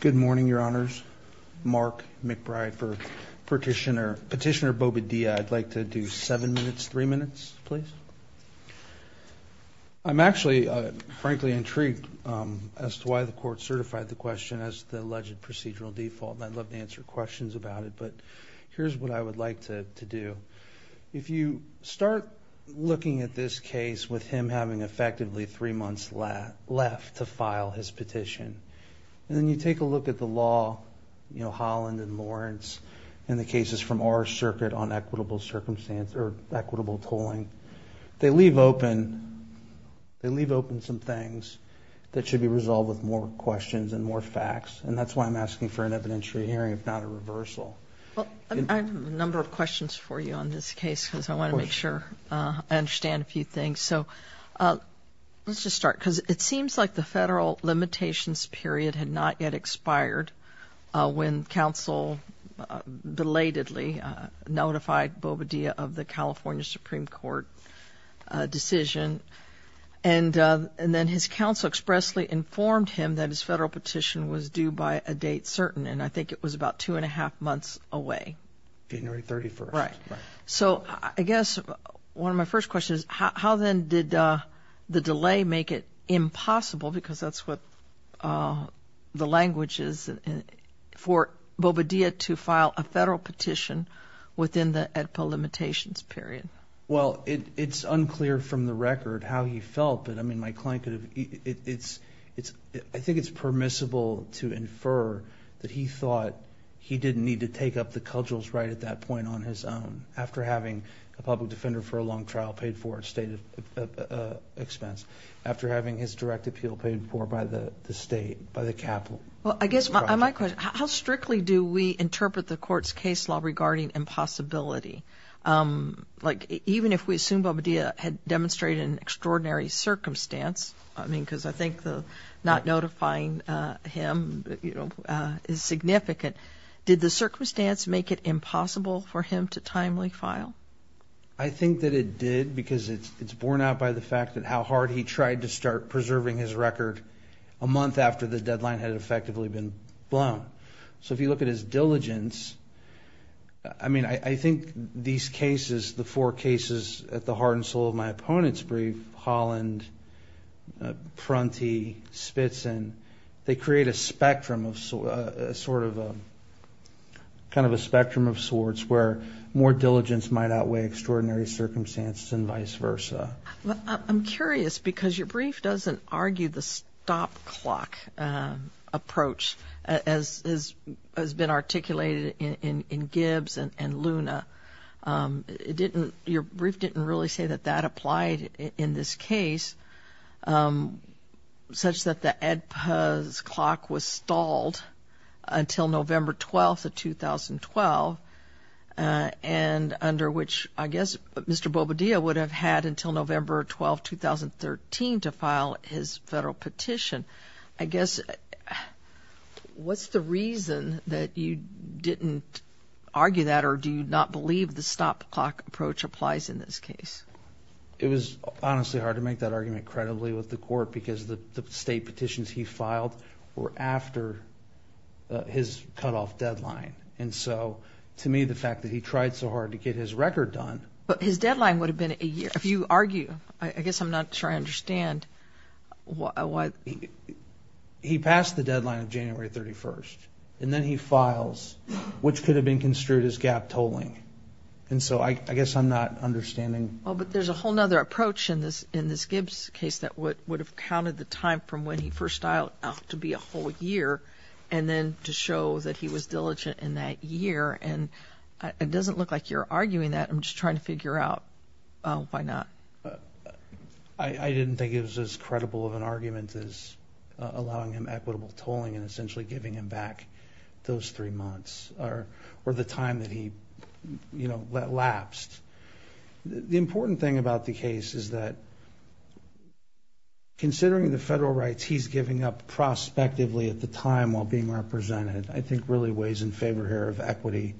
Good morning, Your Honors. Mark McBride for Petitioner Bobadilla. I'd like to do seven minutes, three minutes, please. I'm actually, frankly, intrigued as to why the court certified the question as the alleged procedural default. I'd love to answer questions about it, but here's what I would like to do. If you start looking at this case with him having effectively three months left to file his petition, and then you take a look at the law, you know, Holland and Lawrence, and the cases from our circuit on equitable circumstance or equitable tolling, they leave open some things that should be resolved with more questions and more facts, and that's why I'm asking for an evidentiary hearing, if not a reversal. Well, I have a number of questions for you on this case because I want to make sure I understand a few things. So let's just start because it seems like the federal limitations period had not yet expired when counsel belatedly notified Bobadilla of the California Supreme Court decision, and then his counsel expressly informed him that his federal petition was due by a date certain, and I think it was about two and a half months away. January 31st. Right. So I guess one of my first questions, how then did the delay make it impossible, because that's what the language is, for Bobadilla to file a federal petition within the EDPO limitations period? Well, it's unclear from the record how he felt, but, I mean, my client could have, I think it's permissible to infer that he thought he didn't need to take up the cudgels right at that point on his own after having a public defender for a long trial paid for at state expense, after having his direct appeal paid for by the state, by the capital. Well, I guess my question, how strictly do we interpret the Court's case law regarding impossibility? Like, even if we assume Bobadilla had demonstrated an extraordinary circumstance, I mean, because I think the not notifying him is significant, did the circumstance make it impossible for him to timely file? I think that it did because it's borne out by the fact that how hard he tried to start preserving his record a month after the deadline had effectively been blown. So if you look at his diligence, I mean, I think these cases, the four cases at the heart and soul of my opponent's brief, Holland, Prunty, Spitzin, they create a spectrum of sorts where more diligence might outweigh extraordinary circumstances and vice versa. I'm curious because your brief doesn't argue the stop clock approach as has been articulated in Gibbs and Luna. It didn't, your brief didn't really say that that applied in this case, such that the EDPA's clock was stalled until November 12th of 2012, and under which I guess Mr. Bobadilla would have had until November 12, 2013 to file his federal petition. I guess, what's the reason that you didn't argue that or do you not believe the stop clock approach applies in this case? It was honestly hard to make that argument credibly with the Court because the state petitions he filed were after his cutoff deadline. And so to me, the fact that he tried so hard to get his record done. But his deadline would have been a year. If you argue, I guess I'm not sure I understand. He passed the deadline of January 31st, and then he files, which could have been construed as gap tolling. And so I guess I'm not understanding. Well, but there's a whole other approach in this Gibbs case that would have counted the time from when he first dialed out to be a whole year and then to show that he was diligent in that year. And it doesn't look like you're arguing that. I'm just trying to figure out why not. I didn't think it was as credible of an argument as allowing him equitable tolling and essentially giving him back those three months or the time that he, you know, lapsed. The important thing about the case is that, considering the federal rights he's giving up prospectively at the time while being represented, I think really weighs in favor here of equity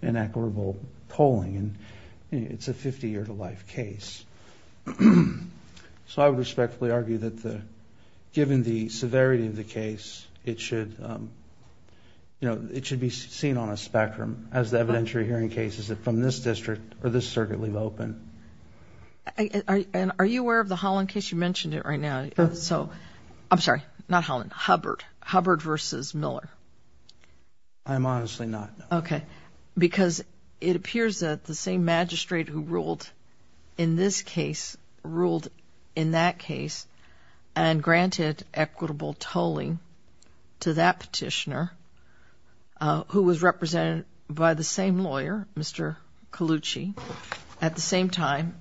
and equitable tolling. And it's a 50-year-to-life case. So I would respectfully argue that given the severity of the case, it should, you know, it should be seen on a spectrum as the evidentiary hearing cases from this district or this circuit leave open. And are you aware of the Holland case? You mentioned it right now. So I'm sorry, not Holland, Hubbard. Hubbard versus Miller. I'm honestly not. Okay. Because it appears that the same magistrate who ruled in this case ruled in that case and granted equitable tolling to that petitioner who was represented by the same lawyer, Mr. Colucci, at the same time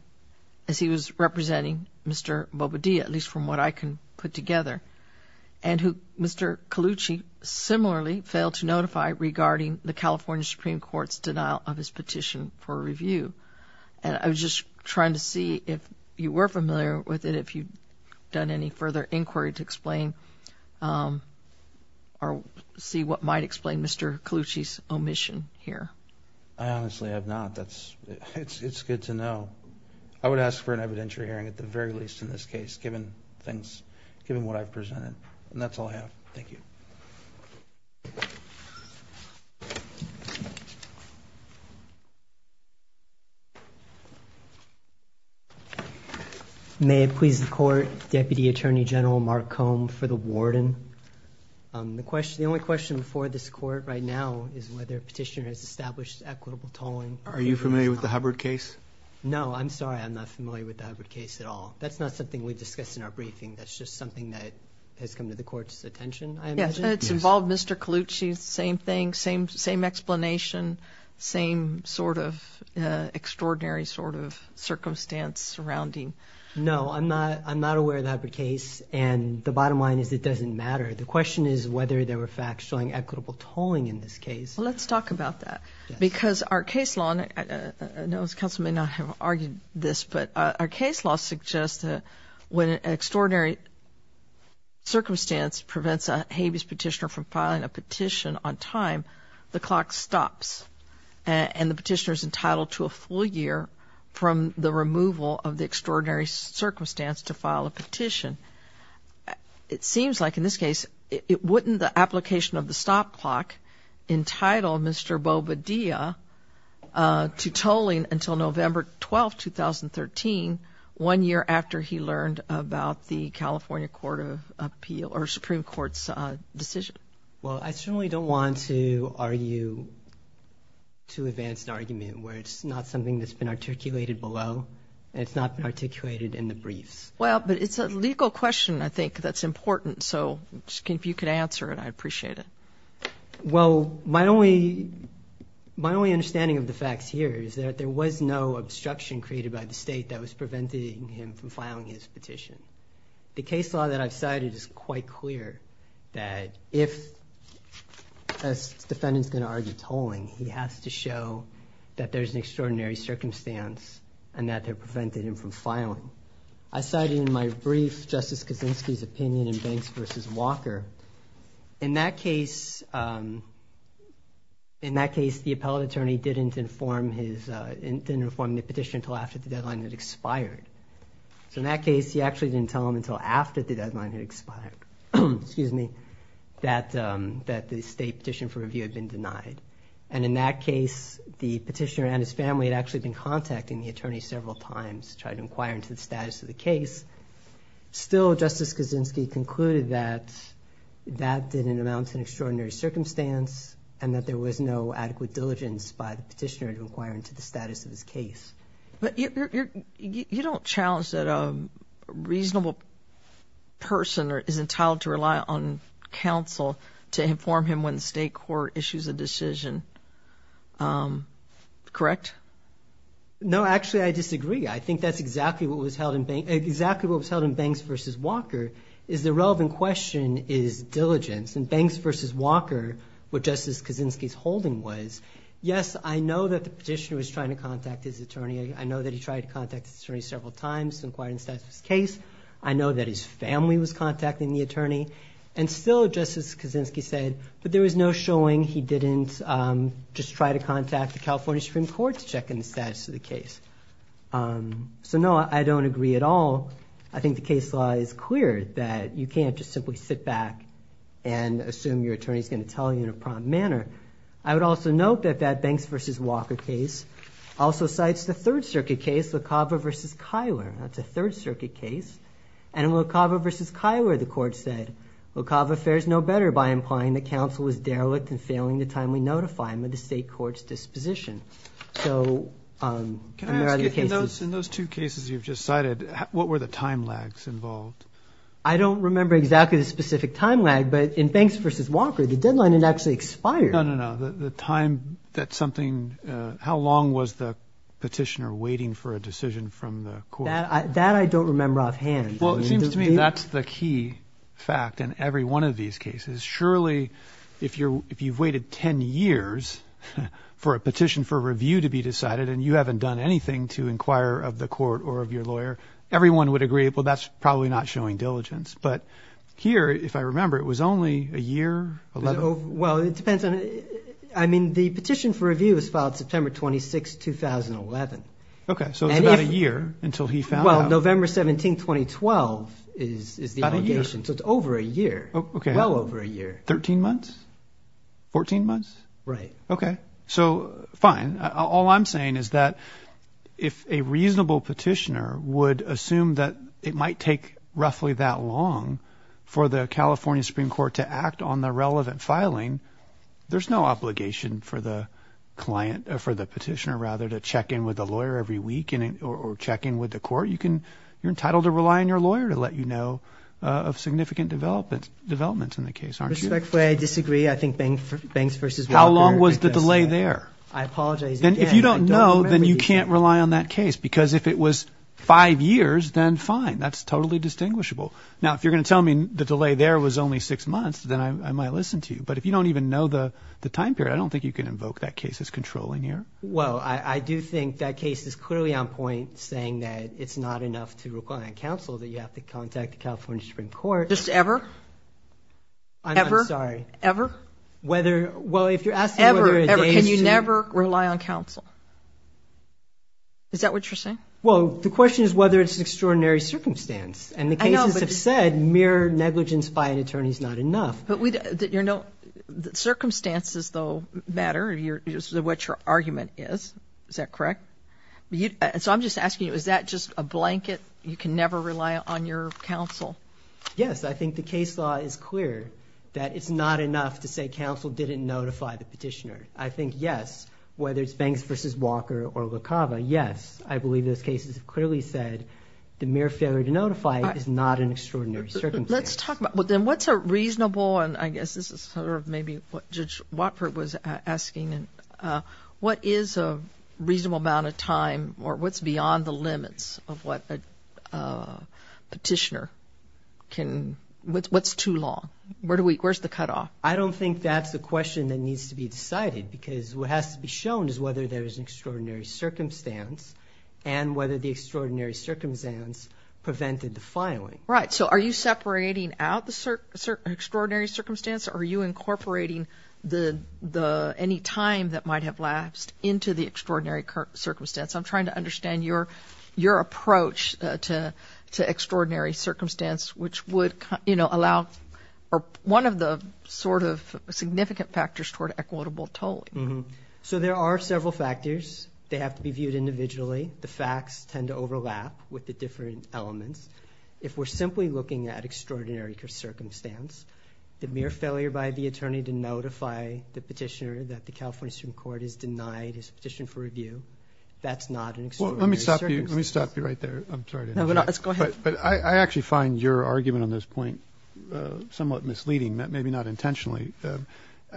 as he was representing Mr. Bobadilla, at least from what I can put together, and who Mr. Colucci similarly failed to notify regarding the California Supreme Court's denial of his petition for review. And I was just trying to see if you were familiar with it, if you'd done any further inquiry to explain or see what might explain Mr. Colucci's omission here. I honestly have not. It's good to know. I would ask for an evidentiary hearing at the very least in this case, given what I've presented. And that's all I have. Thank you. May it please the Court, Deputy Attorney General Mark Cohn for the warden. The only question before this Court right now is whether a petitioner has established equitable tolling. Are you familiar with the Hubbard case? No, I'm sorry. I'm not familiar with the Hubbard case at all. That's not something we discussed in our briefing. That's just something that has come to the Court's attention, I imagine. Yes, and it's involved Mr. Colucci, same thing, same explanation, same sort of extraordinary sort of circumstance surrounding. No, I'm not aware of the Hubbard case, and the bottom line is it doesn't matter. The question is whether there were facts showing equitable tolling in this case. Well, let's talk about that because our case law, and I know this counsel may not have argued this, but our case law suggests that when an extraordinary circumstance prevents a habeas petitioner from filing a petition on time, the clock stops and the petitioner is entitled to a full year from the removal of the extraordinary circumstance to file a petition. It seems like in this case it wouldn't the application of the stop clock entitle Mr. Bobadilla to tolling until November 12, 2013, one year after he learned about the California Court of Appeal or Supreme Court's decision. Well, I certainly don't want to argue too advanced an argument where it's not something that's been articulated below and it's not been articulated in the briefs. Well, but it's a legal question, I think, that's important, so if you could answer it, I'd appreciate it. Well, my only understanding of the facts here is that there was no obstruction created by the state that was preventing him from filing his petition. The case law that I've cited is quite clear that if a defendant's going to argue tolling, he has to show that there's an extraordinary circumstance and that they've prevented him from filing. I cited in my brief Justice Kaczynski's opinion in Banks v. Walker. In that case, the appellate attorney didn't inform the petitioner until after the deadline had expired. So in that case, he actually didn't tell him until after the deadline had expired that the state petition for review had been denied. And in that case, the petitioner and his family had actually been contacting the attorney several times to try to inquire into the status of the case. Still, Justice Kaczynski concluded that that didn't amount to an extraordinary circumstance and that there was no adequate diligence by the petitioner to inquire into the status of his case. But you don't challenge that a reasonable person is entitled to rely on counsel to inform him when the state court issues a decision, correct? No, actually, I disagree. I think that's exactly what was held in Banks v. Walker is the relevant question is diligence. In Banks v. Walker, what Justice Kaczynski's holding was, yes, I know that the petitioner was trying to contact his attorney. I know that he tried to contact his attorney several times to inquire into the status of his case. I know that his family was contacting the attorney. And still, Justice Kaczynski said, but there was no showing he didn't just try to contact the California Supreme Court to check in the status of the case. So, no, I don't agree at all. I think the case law is clear that you can't just simply sit back and assume your attorney is going to tell you in a prompt manner. I would also note that that Banks v. Walker case also cites the Third Circuit case, LaCava v. Kyler. That's a Third Circuit case. And in LaCava v. Kyler, the court said, LaCava fares no better by implying that counsel was derelict in failing to timely notify him of the state court's disposition. So, and there are other cases. Can I ask you, in those two cases you've just cited, what were the time lags involved? I don't remember exactly the specific time lag. But in Banks v. Walker, the deadline had actually expired. No, no, no. The time that something – how long was the petitioner waiting for a decision from the court? That I don't remember offhand. Well, it seems to me that's the key fact in every one of these cases. Surely, if you've waited 10 years for a petition for review to be decided and you haven't done anything to inquire of the court or of your lawyer, everyone would agree, well, that's probably not showing diligence. But here, if I remember, it was only a year, 11? Well, it depends on – I mean, the petition for review was filed September 26, 2011. Okay. So it's about a year until he found out. Well, November 17, 2012 is the obligation. About a year. So it's over a year. Okay. Well over a year. 13 months? 14 months? Right. Okay. So, fine. All I'm saying is that if a reasonable petitioner would assume that it might take roughly that long for the California Supreme Court to act on the relevant filing, there's no obligation for the client – for the petitioner, rather, to check in with the lawyer every week or check in with the court. You can – you're entitled to rely on your lawyer to let you know of significant developments in the case, aren't you? Respectfully, I disagree. I think Banks v. Walker. How long was the delay there? I apologize again. If you don't know, then you can't rely on that case because if it was five years, then fine. That's totally distinguishable. Now, if you're going to tell me the delay there was only six months, then I might listen to you. But if you don't even know the time period, I don't think you can invoke that case as controlling here. Well, I do think that case is clearly on point, saying that it's not enough to require counsel, that you have to contact the California Supreme Court. Just ever? Ever? I'm sorry. Ever? Ever. Whether – well, if you're asking whether it dates to – Ever, ever. Can you never rely on counsel? Is that what you're saying? Well, the question is whether it's an extraordinary circumstance. I know, but – And the cases have said mere negligence by an attorney is not enough. But we – you're – circumstances, though, matter, what your argument is. Is that correct? So I'm just asking you, is that just a blanket, you can never rely on your counsel? Yes. I think the case law is clear that it's not enough to say counsel didn't notify the petitioner. I think, yes, whether it's Banks v. Walker or LaCava, yes, I believe those cases have clearly said the mere failure to notify is not an extraordinary circumstance. Let's talk about – well, then, what's a reasonable – and I guess this is sort of maybe what Judge Watford was asking. What is a reasonable amount of time or what's beyond the limits of what a petitioner can – what's too long? Where do we – where's the cutoff? I don't think that's a question that needs to be decided because what has to be shown is whether there is an extraordinary circumstance and whether the extraordinary circumstance prevented the filing. Right. So are you separating out the extraordinary circumstance? Are you incorporating any time that might have lapsed into the extraordinary circumstance? I'm trying to understand your approach to extraordinary circumstance, which would allow – or one of the sort of significant factors toward equitable tolling. So there are several factors. They have to be viewed individually. The facts tend to overlap with the different elements. If we're simply looking at extraordinary circumstance, the mere failure by the attorney to notify the petitioner that the California Supreme Court has denied his petition for review, that's not an extraordinary circumstance. Well, let me stop you right there. I'm sorry to interrupt. No, go ahead. But I actually find your argument on this point somewhat misleading, maybe not intentionally.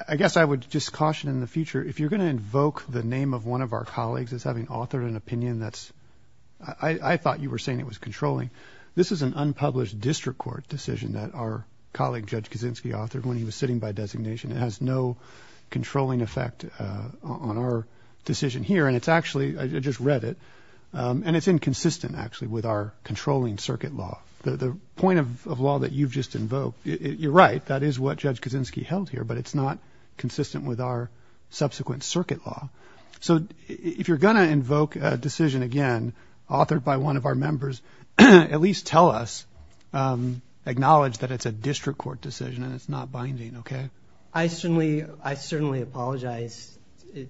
I guess I would just caution in the future, if you're going to invoke the name of one of our colleagues as having authored an opinion that's – I thought you were saying it was controlling. This is an unpublished district court decision that our colleague, Judge Kaczynski, authored when he was sitting by designation. It has no controlling effect on our decision here. And it's actually – I just read it. And it's inconsistent, actually, with our controlling circuit law. The point of law that you've just invoked, you're right, that is what Judge Kaczynski held here, but it's not consistent with our subsequent circuit law. So if you're going to invoke a decision, again, authored by one of our members, at least tell us, acknowledge that it's a district court decision and it's not binding, okay? I certainly apologize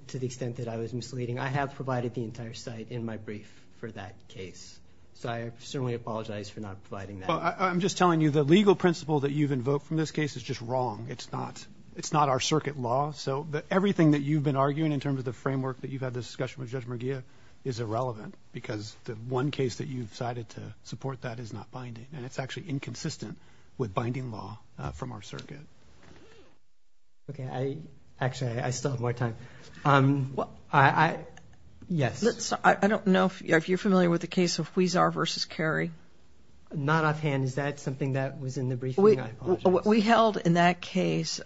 to the extent that I was misleading. I have provided the entire site in my brief for that case. So I certainly apologize for not providing that. Well, I'm just telling you the legal principle that you've invoked from this case is just wrong. It's not our circuit law. So everything that you've been arguing in terms of the framework that you've had this discussion with Judge Murgia is irrelevant because the one case that you've decided to support that is not binding, and it's actually inconsistent with binding law from our circuit. Okay. Actually, I still have more time. Yes. I don't know if you're familiar with the case of Huizar v. Carey. Not offhand. Is that something that was in the briefing? I apologize. Well, we held in that case,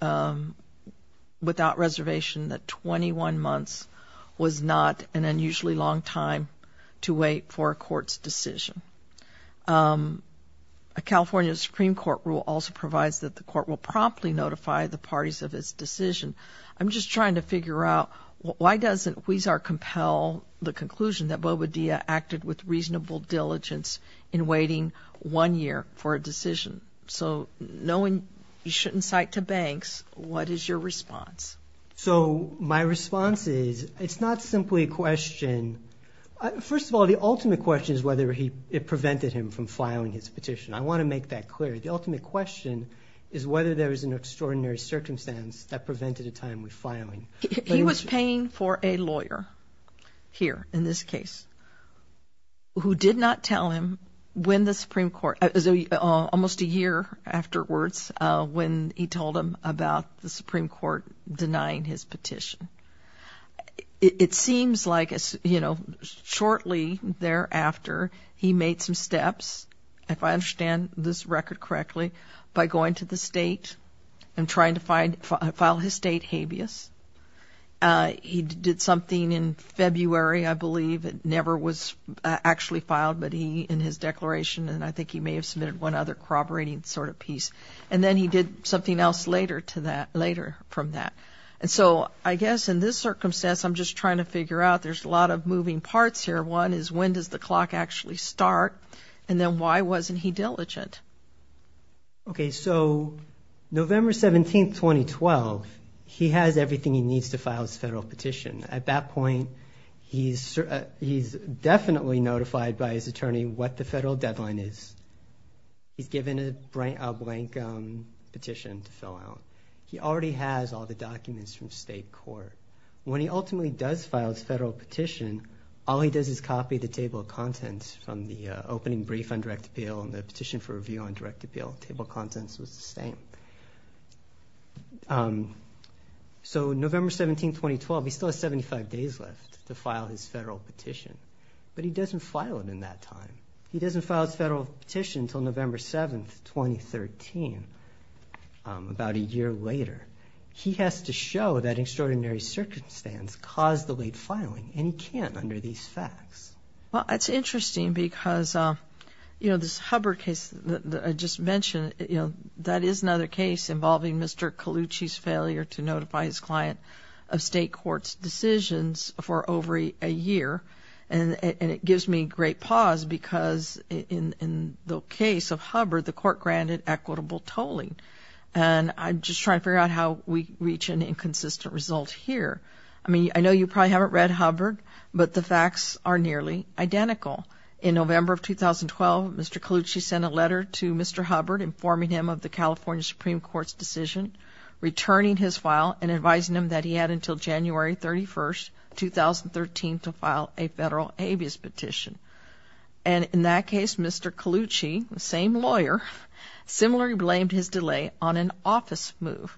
without reservation, that 21 months was not an unusually long time to wait for a court's decision. A California Supreme Court rule also provides that the court will promptly notify the parties of its decision. I'm just trying to figure out why doesn't Huizar compel the conclusion that Boba Dia acted with reasonable diligence in waiting one year for a decision? So knowing you shouldn't cite to banks, what is your response? So my response is it's not simply a question. First of all, the ultimate question is whether it prevented him from filing his petition. I want to make that clear. The ultimate question is whether there was an extraordinary circumstance that prevented a time with filing. He was paying for a lawyer here in this case who did not tell him when the Supreme Court, almost a year afterwards, when he told him about the Supreme Court denying his petition. It seems like, you know, shortly thereafter, he made some steps, if I understand this record correctly, by going to the state and trying to file his state habeas. He did something in February, I believe. It never was actually filed, but he, in his declaration, and I think he may have submitted one other corroborating sort of piece. And then he did something else later from that. And so I guess in this circumstance, I'm just trying to figure out there's a lot of moving parts here. One is when does the clock actually start, and then why wasn't he diligent? Okay, so November 17, 2012, he has everything he needs to file his federal petition. At that point, he's definitely notified by his attorney what the federal deadline is. He's given a blank petition to fill out. He already has all the documents from state court. When he ultimately does file his federal petition, all he does is copy the table of contents from the opening brief on direct appeal and the petition for review on direct appeal. Table of contents was the same. So November 17, 2012, he still has 75 days left to file his federal petition, but he doesn't file it in that time. He doesn't file his federal petition until November 7, 2013, about a year later. He has to show that extraordinary circumstance caused the late filing, and he can't under these facts. Well, that's interesting because, you know, this Hubbard case that I just mentioned, you know, that is another case involving Mr. Calucci's failure to notify his client of state court's decisions for over a year. And it gives me great pause because in the case of Hubbard, the court granted equitable tolling. And I'm just trying to figure out how we reach an inconsistent result here. I mean, I know you probably haven't read Hubbard, but the facts are nearly identical. In November of 2012, Mr. Calucci sent a letter to Mr. Hubbard informing him of the California Supreme Court's decision, returning his file, and advising him that he had until January 31, 2013, to file a federal habeas petition. And in that case, Mr. Calucci, the same lawyer, similarly blamed his delay on an office move.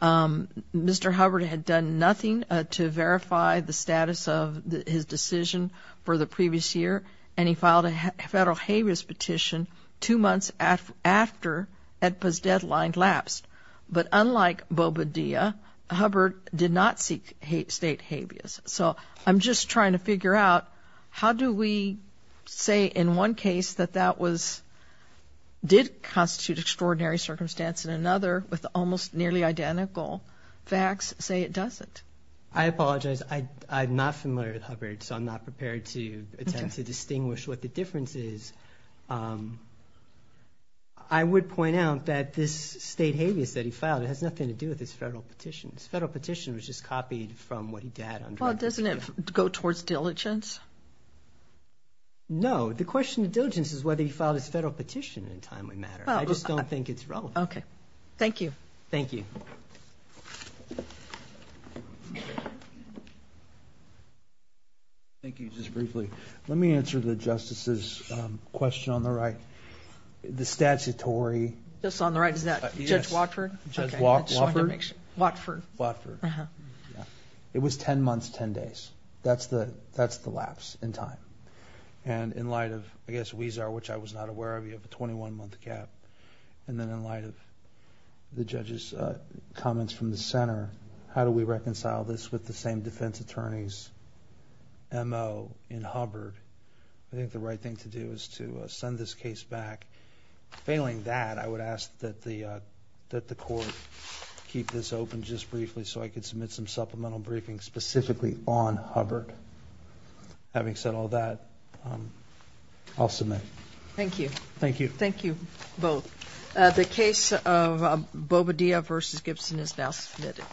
Mr. Hubbard had done nothing to verify the status of his decision for the previous year, and he filed a federal habeas petition two months after AEDPA's deadline lapsed. But unlike Bobadilla, Hubbard did not seek state habeas. So I'm just trying to figure out how do we say in one case that that did constitute extraordinary circumstance, and another with almost nearly identical facts say it doesn't? I apologize. I'm not familiar with Hubbard, so I'm not prepared to attempt to distinguish what the difference is. I would point out that this state habeas that he filed, it has nothing to do with his federal petition. His federal petition was just copied from what he did. Well, doesn't it go towards diligence? No. The question of diligence is whether he filed his federal petition in a timely manner. I just don't think it's relevant. Okay. Thank you. Thank you. Thank you. Just briefly, let me answer the Justice's question on the right. The statutory. Just on the right, is that Judge Watford? Watford. It was 10 months, 10 days. That's the lapse in time. And in light of, I guess, WESAR, which I was not aware of, you have a 21-month gap. And then in light of the judge's comments from the center, how do we reconcile this with the same defense attorney's M.O. in Hubbard? I think the right thing to do is to send this case back. Failing that, I would ask that the court keep this open just briefly so I could submit some supplemental briefings specifically on Hubbard. Having said all that, I'll submit. Thank you. Thank you. Thank you both. The case of Bobadilla v. Gibson is now submitted.